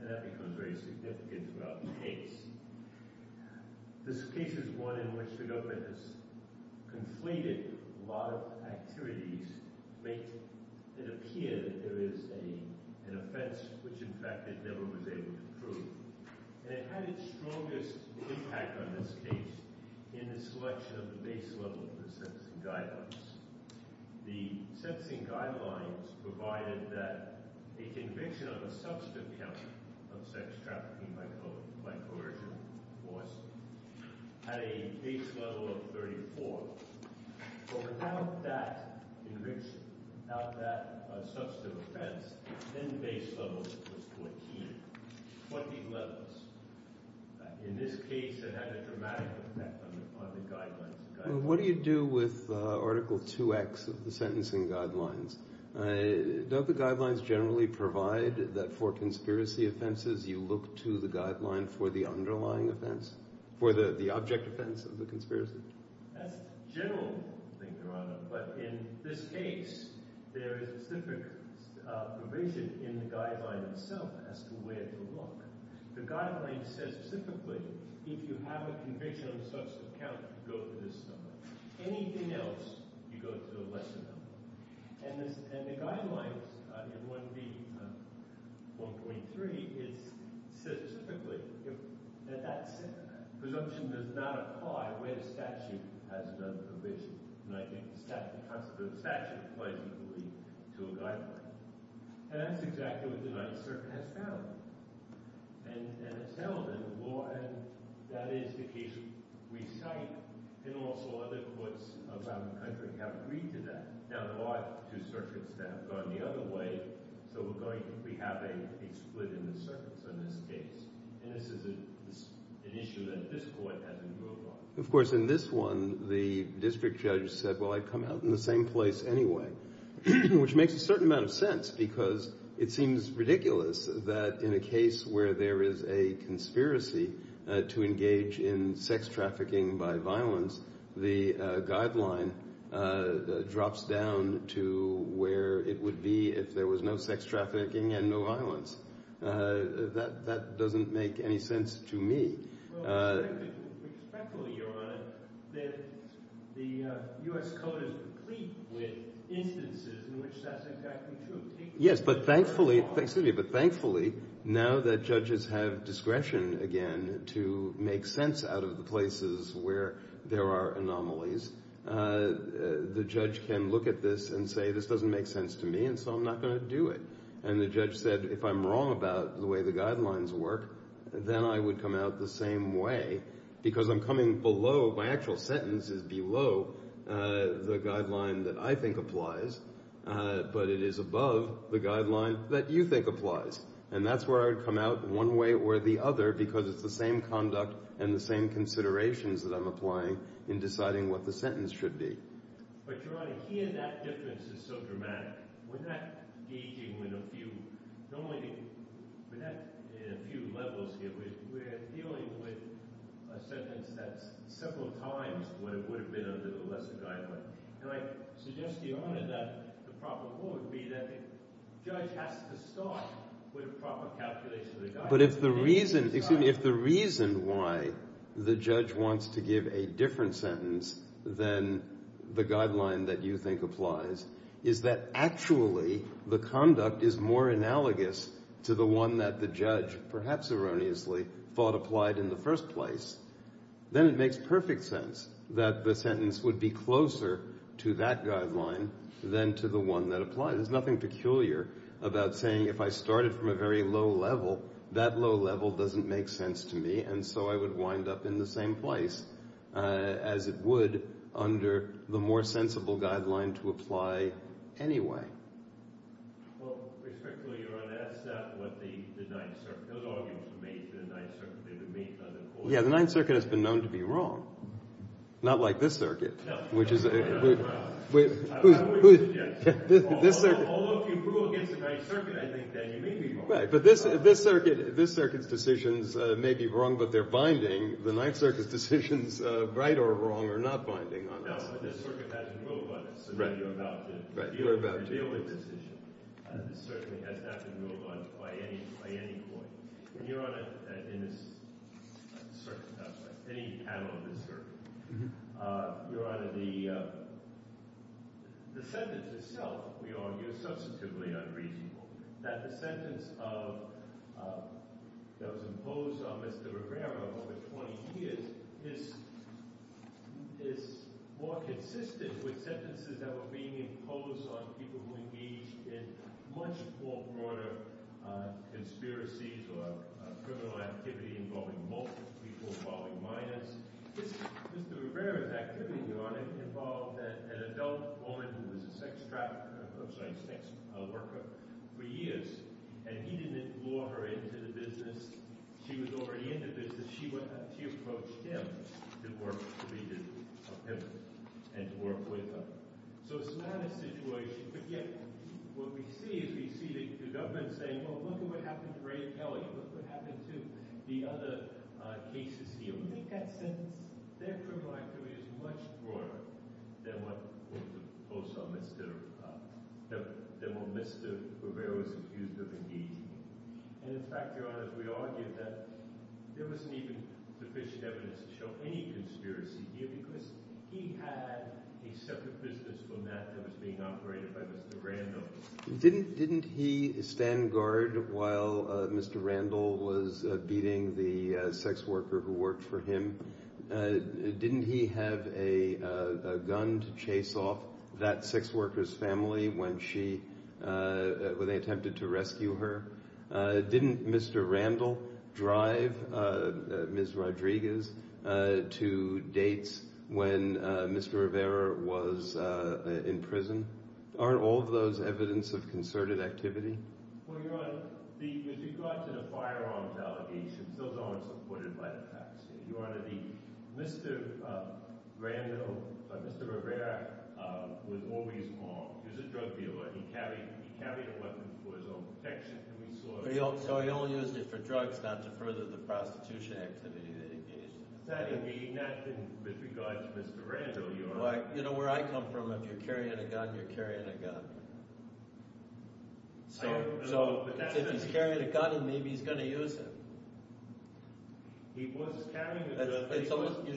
And that becomes very significant throughout the case. This case is one in which the government has conflated a lot of activities to make it appear that there is an offense which in fact it never was able to prove. And it had its strongest impact on this case in the selection of the base level of the sentencing guidelines. The sentencing guidelines provided that a conviction on a substantive count of sex trafficking by coercion was at a base level of 34. But without that enrichment, without that substantive offense, then the base level was 14. 20 levels. In this case, it had a dramatic effect on the guidelines. What do you do with Article 2x of the sentencing guidelines? Don't the guidelines generally provide that for conspiracy offenses you look to the guideline for the underlying offense, for the object offense of the conspiracy? That's the general thing, Your Honor. But in this case, there is a specific provision in the guideline itself as to where to look. The guideline says specifically, if you have a conviction on a substantive count, you go to this level. Anything else, you go to a lesser level. And the guidelines in 1B, 1.3, it says specifically that that presumption does not apply where the statute has done the provision. And I think the statute applies equally to a guideline. And that's exactly what the United States has found. And it's held in the law, and that is the case we cite, and also other courts around the country have agreed to that. Now, there are two circuits that have gone the other way, so we're going to be having a split in the circuits in this case. And this is an issue that this court has improved on. Of course, in this one, the district judge said, well, I'd come out in the same place anyway, which makes a certain amount of sense because it seems ridiculous that in a case where there is a conspiracy to engage in sex trafficking by violence, the guideline drops down to where it would be if there was no sex trafficking and no violence. That doesn't make any sense to me. Yes, but thankfully, now that judges have discretion again to make sense out of the places where there are anomalies, the judge can look at this and say, this doesn't make sense to me, and so I'm not going to do it. And the judge said, if I'm wrong about the way the guidelines work, then I would come out the same way because I'm coming below, my actual sentence is below the guideline that I think applies, but it is above the guideline that you think applies. And that's where I would come out one way or the other because it's the same conduct and the same considerations that I'm applying in deciding what the sentence should be. But Your Honor, here that difference is so dramatic. We're not engaging with a few. Normally, we're not in a few levels here. We're dealing with a sentence that's several times what it would have been under the lesser guideline. And I suggest to Your Honor that the proper rule would be that the judge has to start with a proper calculation of the guideline. But if the reason, excuse me, if the reason why the judge wants to give a different sentence than the guideline that you think applies is that actually the conduct is more analogous to the one that the judge, perhaps erroneously, thought applied in the first place, then it makes perfect sense that the sentence would be closer to that guideline than to the one that applies. There's nothing peculiar about saying if I started from a very low level, that low level doesn't make sense to me. And so I would wind up in the same place as it would under the more sensible guideline to apply anyway. Yeah, the Ninth Circuit has been known to be wrong. Not like this circuit, which is, this circuit, this circuit, this circuit's decisions may be wrong, but they're binding. The Ninth Circuit's decisions, right or wrong, are not binding. Now, this circuit has to move on. So you're about to reveal a decision. This circuit has to move on by any point. And Your Honor, in this circuit, any panel of this circuit, Your Honor, the sentence itself, we argue, is substantively unreasonable. That the sentence that was imposed on Mr. Rivera over 20 years is more consistent with sentences that were being imposed on people who engaged in much more broader conspiracies or criminal activity involving multiple people, involving minors. Mr. Rivera's activity, Your Honor, involved an adult woman who was a sex worker for years, and he didn't lure her into the business. She was already in the business. She approached him to work with him and to work with her. So it's not a situation, but yet what we see is we see the government saying, well, look at what happened to Ray Kelly. Look what happened to the other cases here. Would you make that sentence? Their criminal activity is much broader than what was imposed on Mr. Rivera, than what Mr. Rivera was accused of engaging in. And in fact, Your Honor, we argue that there wasn't even sufficient evidence to show any conspiracy here because he had a separate business from that that was being operated by Mr. Randall. Didn't he stand guard while Mr. Randall was beating the sex worker who worked for him? Didn't he have a gun to chase off that sex worker's family when she, when they attempted to rescue her? Didn't Mr. Randall drive Ms. Rodriguez to dates when Mr. Rivera was in prison? Aren't all of those evidence of concerted activity? Well, Your Honor, with regard to the firearms allegations, those aren't supported by the facts. Your Honor, Mr. Randall, Mr. Rivera was always armed. He was a drug dealer. He carried a weapon for his own protection. So he only used it for drugs, not to further the prostitution activity that he engaged in. That is not in regard to Mr. Randall, Your Honor. You know where I come from, if you're carrying a gun, you're carrying a gun. So if he's carrying a gun, maybe he's going to use it. He was carrying a gun until he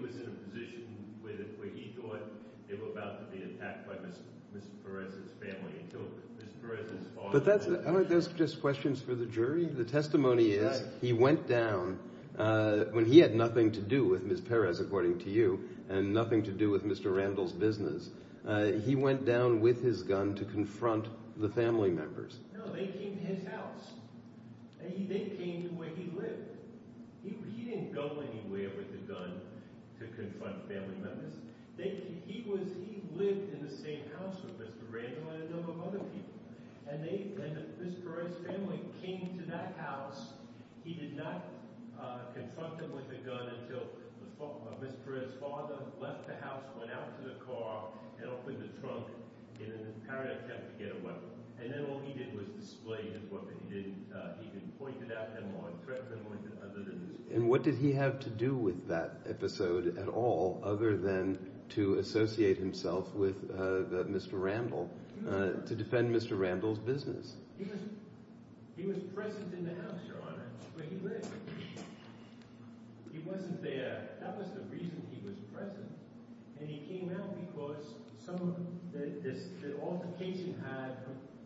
was in a position where he thought it was about to be attacked by Ms. Perez's family. Aren't those just questions for the jury? The testimony is he went down when he had nothing to do with Ms. Perez, according to you, and nothing to do with Mr. Randall's business. He went down with his gun to confront the family members. No, they came to his house. They came to where he lived. He didn't go anywhere with a gun to confront family members. He lived in the same house with Mr. Randall and a number of other people. And Ms. Perez's family came to that house. He did not confront them with a gun until Ms. Perez's father left the house, went out to the car. And what did he have to do with that episode at all other than to associate himself with Mr. Randall to defend Mr. Randall's business? He was present in the house, Your Honor, but he lived. He wasn't there. That was the reason he was present. And he came out because some of the altercation he had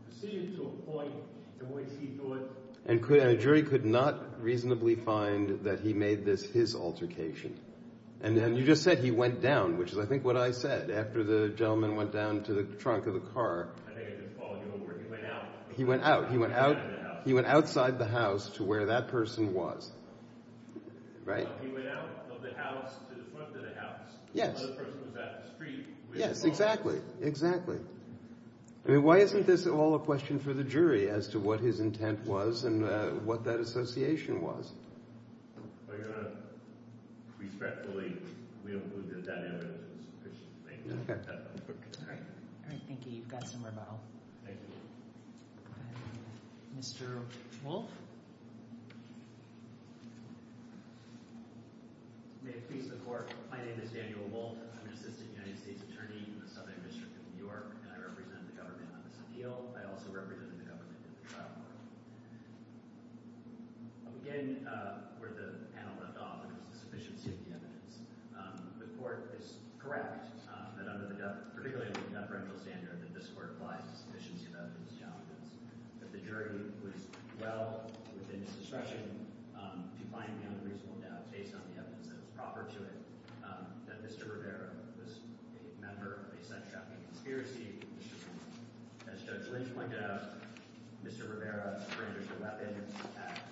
proceeded to a point in which he thought— And a jury could not reasonably find that he made this his altercation. And you just said he went down, which is, I think, what I said, after the gentleman went down to the trunk of the car. I think I just called you over. He went out. He went out. He went out. He went outside the house to where that person was, right? He went out of the house to the front of the house. Yes. The other person was at the street. Yes, exactly. Exactly. I mean, why isn't this all a question for the jury as to what his intent was and what that association was? Your Honor, respectfully, we don't believe that that evidence is sufficient to make that judgment. All right. Thank you. You've got some rebuttal. Thank you. Mr. Wolfe? May it please the Court. My name is Daniel Wolfe. I'm an assistant United States attorney in the Southern District of New York. And I represent the government on this appeal. I also represent the government in the trial. Again, where the panel left off was the sufficiency of the evidence. The Court is correct that under the—particularly under the deferential standard—that this jury was well within its discretion to find the unreasonable doubt based on the evidence that was proper to it, that Mr. Rivera was a member of a sex-trafficking conspiracy. As Judge Lynch pointed out, Mr. Rivera surrendered a weapon and attacked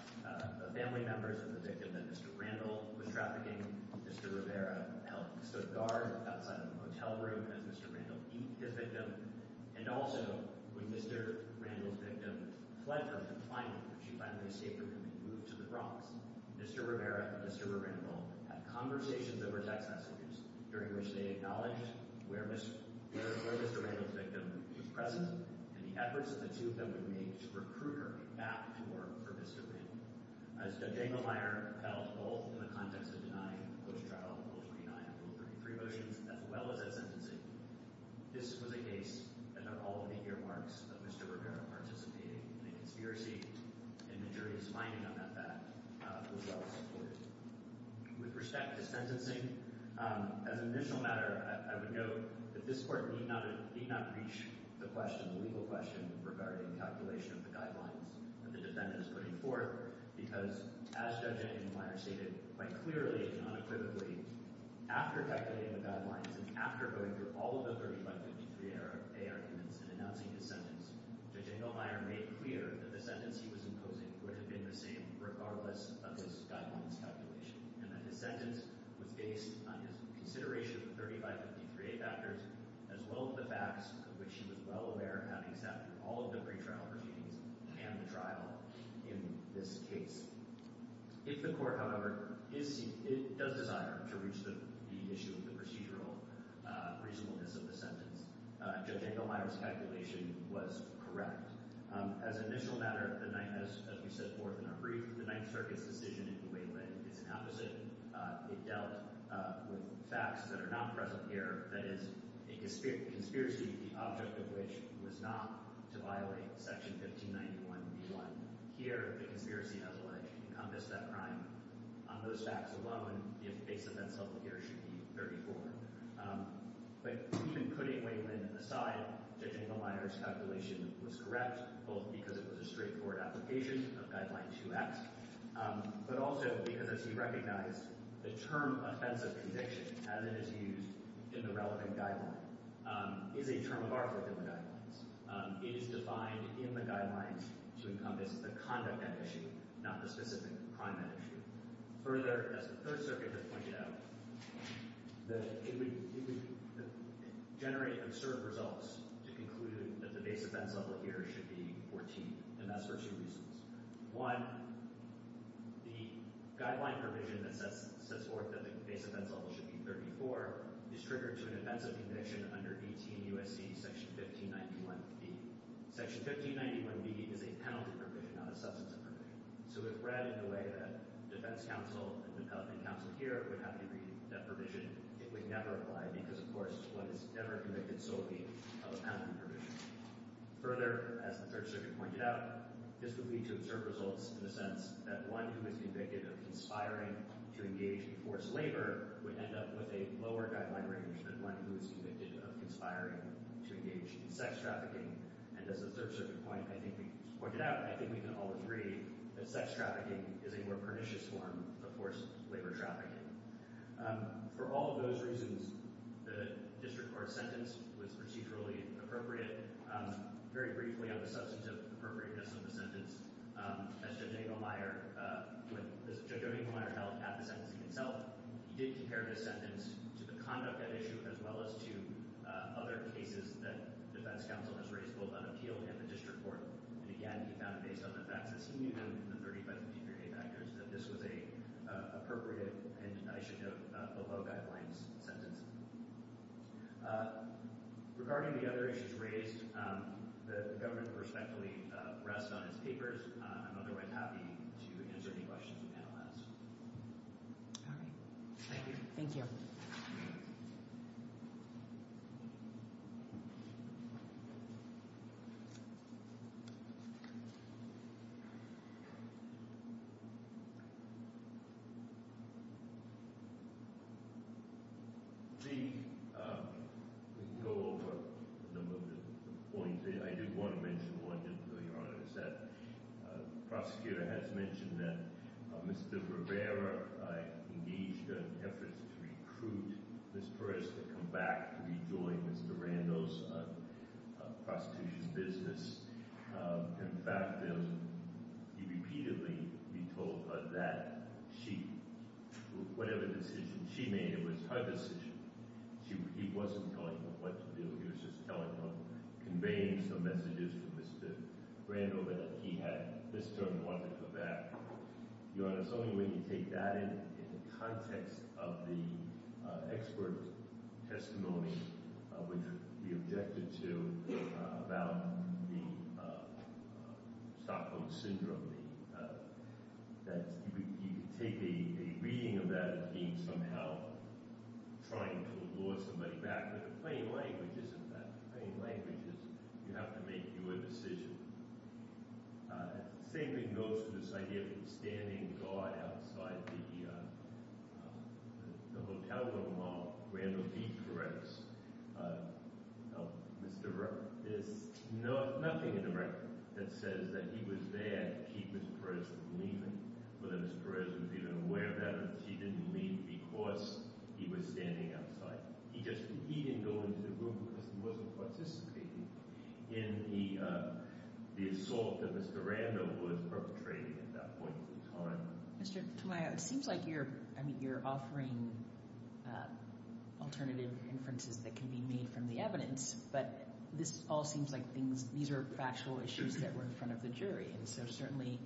family members of the victim that Mr. Randall was trafficking. Mr. Rivera helped guard outside of the motel room as Mr. Randall beat the victim. And also, when Mr. Randall's victim fled her confinement, she finally escaped with him and moved to the Bronx. Mr. Rivera and Mr. Randall had conversations over text messages, during which they acknowledged where Mr. Randall's victim was present and the efforts that the two of them had made to recruit her back to work for Mr. Randall. As Judge Engelmeyer felt, both in the context of denying post-trial and post-denial rule 33 motions, as well as at sentencing, this was a case about all of the earmarks of Mr. Rivera participating in a conspiracy, and the jury's finding on that fact was well supported. With respect to sentencing, as an initial matter, I would note that this Court need not reach the question— the legal question—regarding calculation of the guidelines that the defendant is putting forth, because, as Judge Engelmeyer stated quite clearly and unequivocally, after calculating the guidelines and after going through all of the 3553A arguments and announcing his sentence, Judge Engelmeyer made clear that the sentence he was imposing would have been the same, regardless of his guidelines calculation, and that his sentence was based on his consideration of the 3553A factors, as well as the facts, of which he was well aware, having sat through all of the pretrial proceedings and the trial in this case. If the Court, however, does desire to reach the issue of the procedural reasonableness of the sentence, Judge Engelmeyer's calculation was correct. As an initial matter, as we set forth in our brief, the Ninth Circuit's decision in the Wayland is an opposite. It dealt with facts that are not present here, that is, a conspiracy, the object of which was not to violate Section 1591b1. Here, the conspiracy has a right to encompass that crime. On those facts alone, the offense itself here should be very forward. But even putting Wayland aside, Judge Engelmeyer's calculation was correct, both because it was a straightforward application of Guideline 2x, but also because, as he recognized, the term offensive conviction, as it is used in the relevant guideline, is a term of art within the guidelines. It is defined in the guidelines to encompass the conduct at issue, not the specific crime at issue. Further, as the Third Circuit has pointed out, it would generate absurd results to conclude that the base offense level here should be 14, and that's for two reasons. One, the guideline provision that sets forth that the base offense level should be 34 is triggered to an offensive conviction under 18 U.S.C. Section 1591b. Section 1591b is a penalty provision, not a substance of provision. So if read in the way that defense counsel and the penalty counsel here would have to read that provision, it would never apply because, of course, one is never convicted solely of a penalty provision. Further, as the Third Circuit pointed out, this would lead to absurd results in the sense that one who is convicted of conspiring to engage in forced labor would end up with a lower guideline range than one who is convicted of conspiring to engage in sex trafficking. And as the Third Circuit pointed out, and I think we can all agree, that sex trafficking is a more pernicious form of forced labor trafficking. For all of those reasons, the District Court sentence was procedurally appropriate. Very briefly on the substance of appropriateness of the sentence, as Judge Odinghelmeyer held at the sentencing itself, he did compare this sentence to the conduct at issue as well as to other cases that defense counsel has raised, both on appeal and the District Court. And again, he found, based on the facts, as he knew them in the 35 particular case factors, that this was an appropriate, and I should note, below guidelines sentence. Regarding the other issues raised, the government respectfully rests on its papers. I'm otherwise happy to answer any questions the panel has. Thank you. Thank you. I think we can go over a number of points. I do want to mention one, just so Your Honor, is that the prosecutor has mentioned that Mr. Rivera engaged efforts to recruit Ms. Perez to come back to rejoin Mr. Randall's prostitution business. In fact, he repeatedly retold her that whatever decision she made, it was her decision. He wasn't telling her what to do. He was just telling her, conveying some messages to Mr. Randall, that he had this term and wanted her back. Your Honor, it's only when you take that in the context of the expert testimony, which we objected to, about the Stockholm Syndrome, that you can take a reading of that as being somehow trying to lure somebody back. But in plain language, you have to make your decision. The same thing goes for this idea of him standing guard outside the hotel room while Randall beat Perez. Mr. Rivera, there's nothing in the record that says that he was there to keep Ms. Perez from leaving, or that Ms. Perez was even aware that she didn't leave because he was standing outside. He didn't go into the room because he wasn't participating. In the assault that Mr. Randall was perpetrating at that point in time. Mr. Tamayo, it seems like you're offering alternative inferences that can be made from the evidence, but this all seems like these are factual issues that were in front of the jury. So certainly,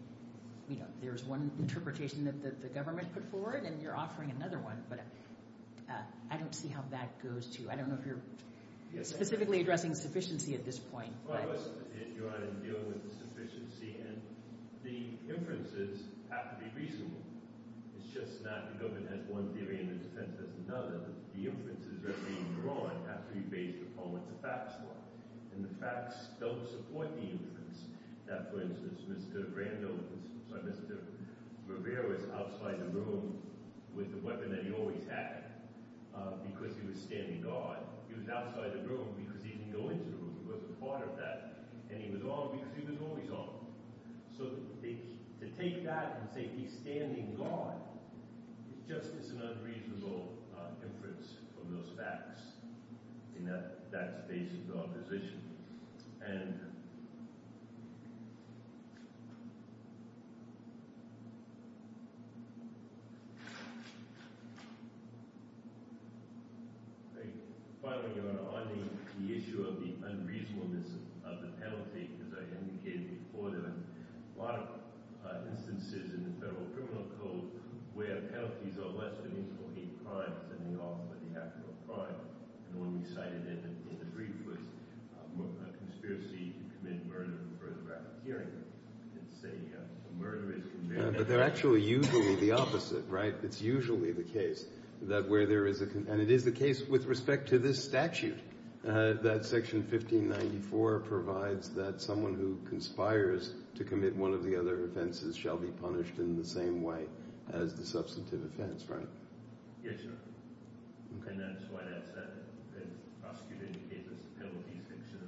there's one interpretation that the government put forward, and you're offering another one. But I don't see how that goes, too. I don't know if you're specifically addressing sufficiency at this point. Well, I was, Your Honor, in dealing with the sufficiency, and the inferences have to be reasonable. It's just not that the government has one theory and the defense has another. The inferences that are being drawn have to be based upon what the facts are. And the facts don't support the inference that, for instance, Mr. Rivera was outside the room with the weapon that he always had because he was standing guard. He was outside the room because he didn't go into the room. He wasn't part of that. And he was on because he was always on. So to take that and say he's standing guard just is an unreasonable inference from those facts in that space of opposition. Finally, Your Honor, on the issue of the unreasonableness of the penalty, as I indicated before, there are a lot of instances in the federal criminal code where penalties are less than reasonable hate crimes than they are for the act of a crime. And one we cited in the brief was a conspiracy to commit murder for the rapid hearing. It's a murder is committed... But they're actually usually the opposite, right? In fact, it's usually the case that where there is a... And it is the case with respect to this statute that Section 1594 provides that someone who conspires to commit one of the other offenses shall be punished in the same way as the substantive offense, right? Yes, Your Honor. And that's why that's said. The prosecutor indicated this penalty is an exception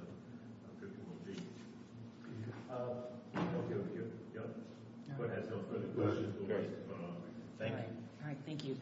of Criminal Code. Okay, thank you. Go ahead. Thank you.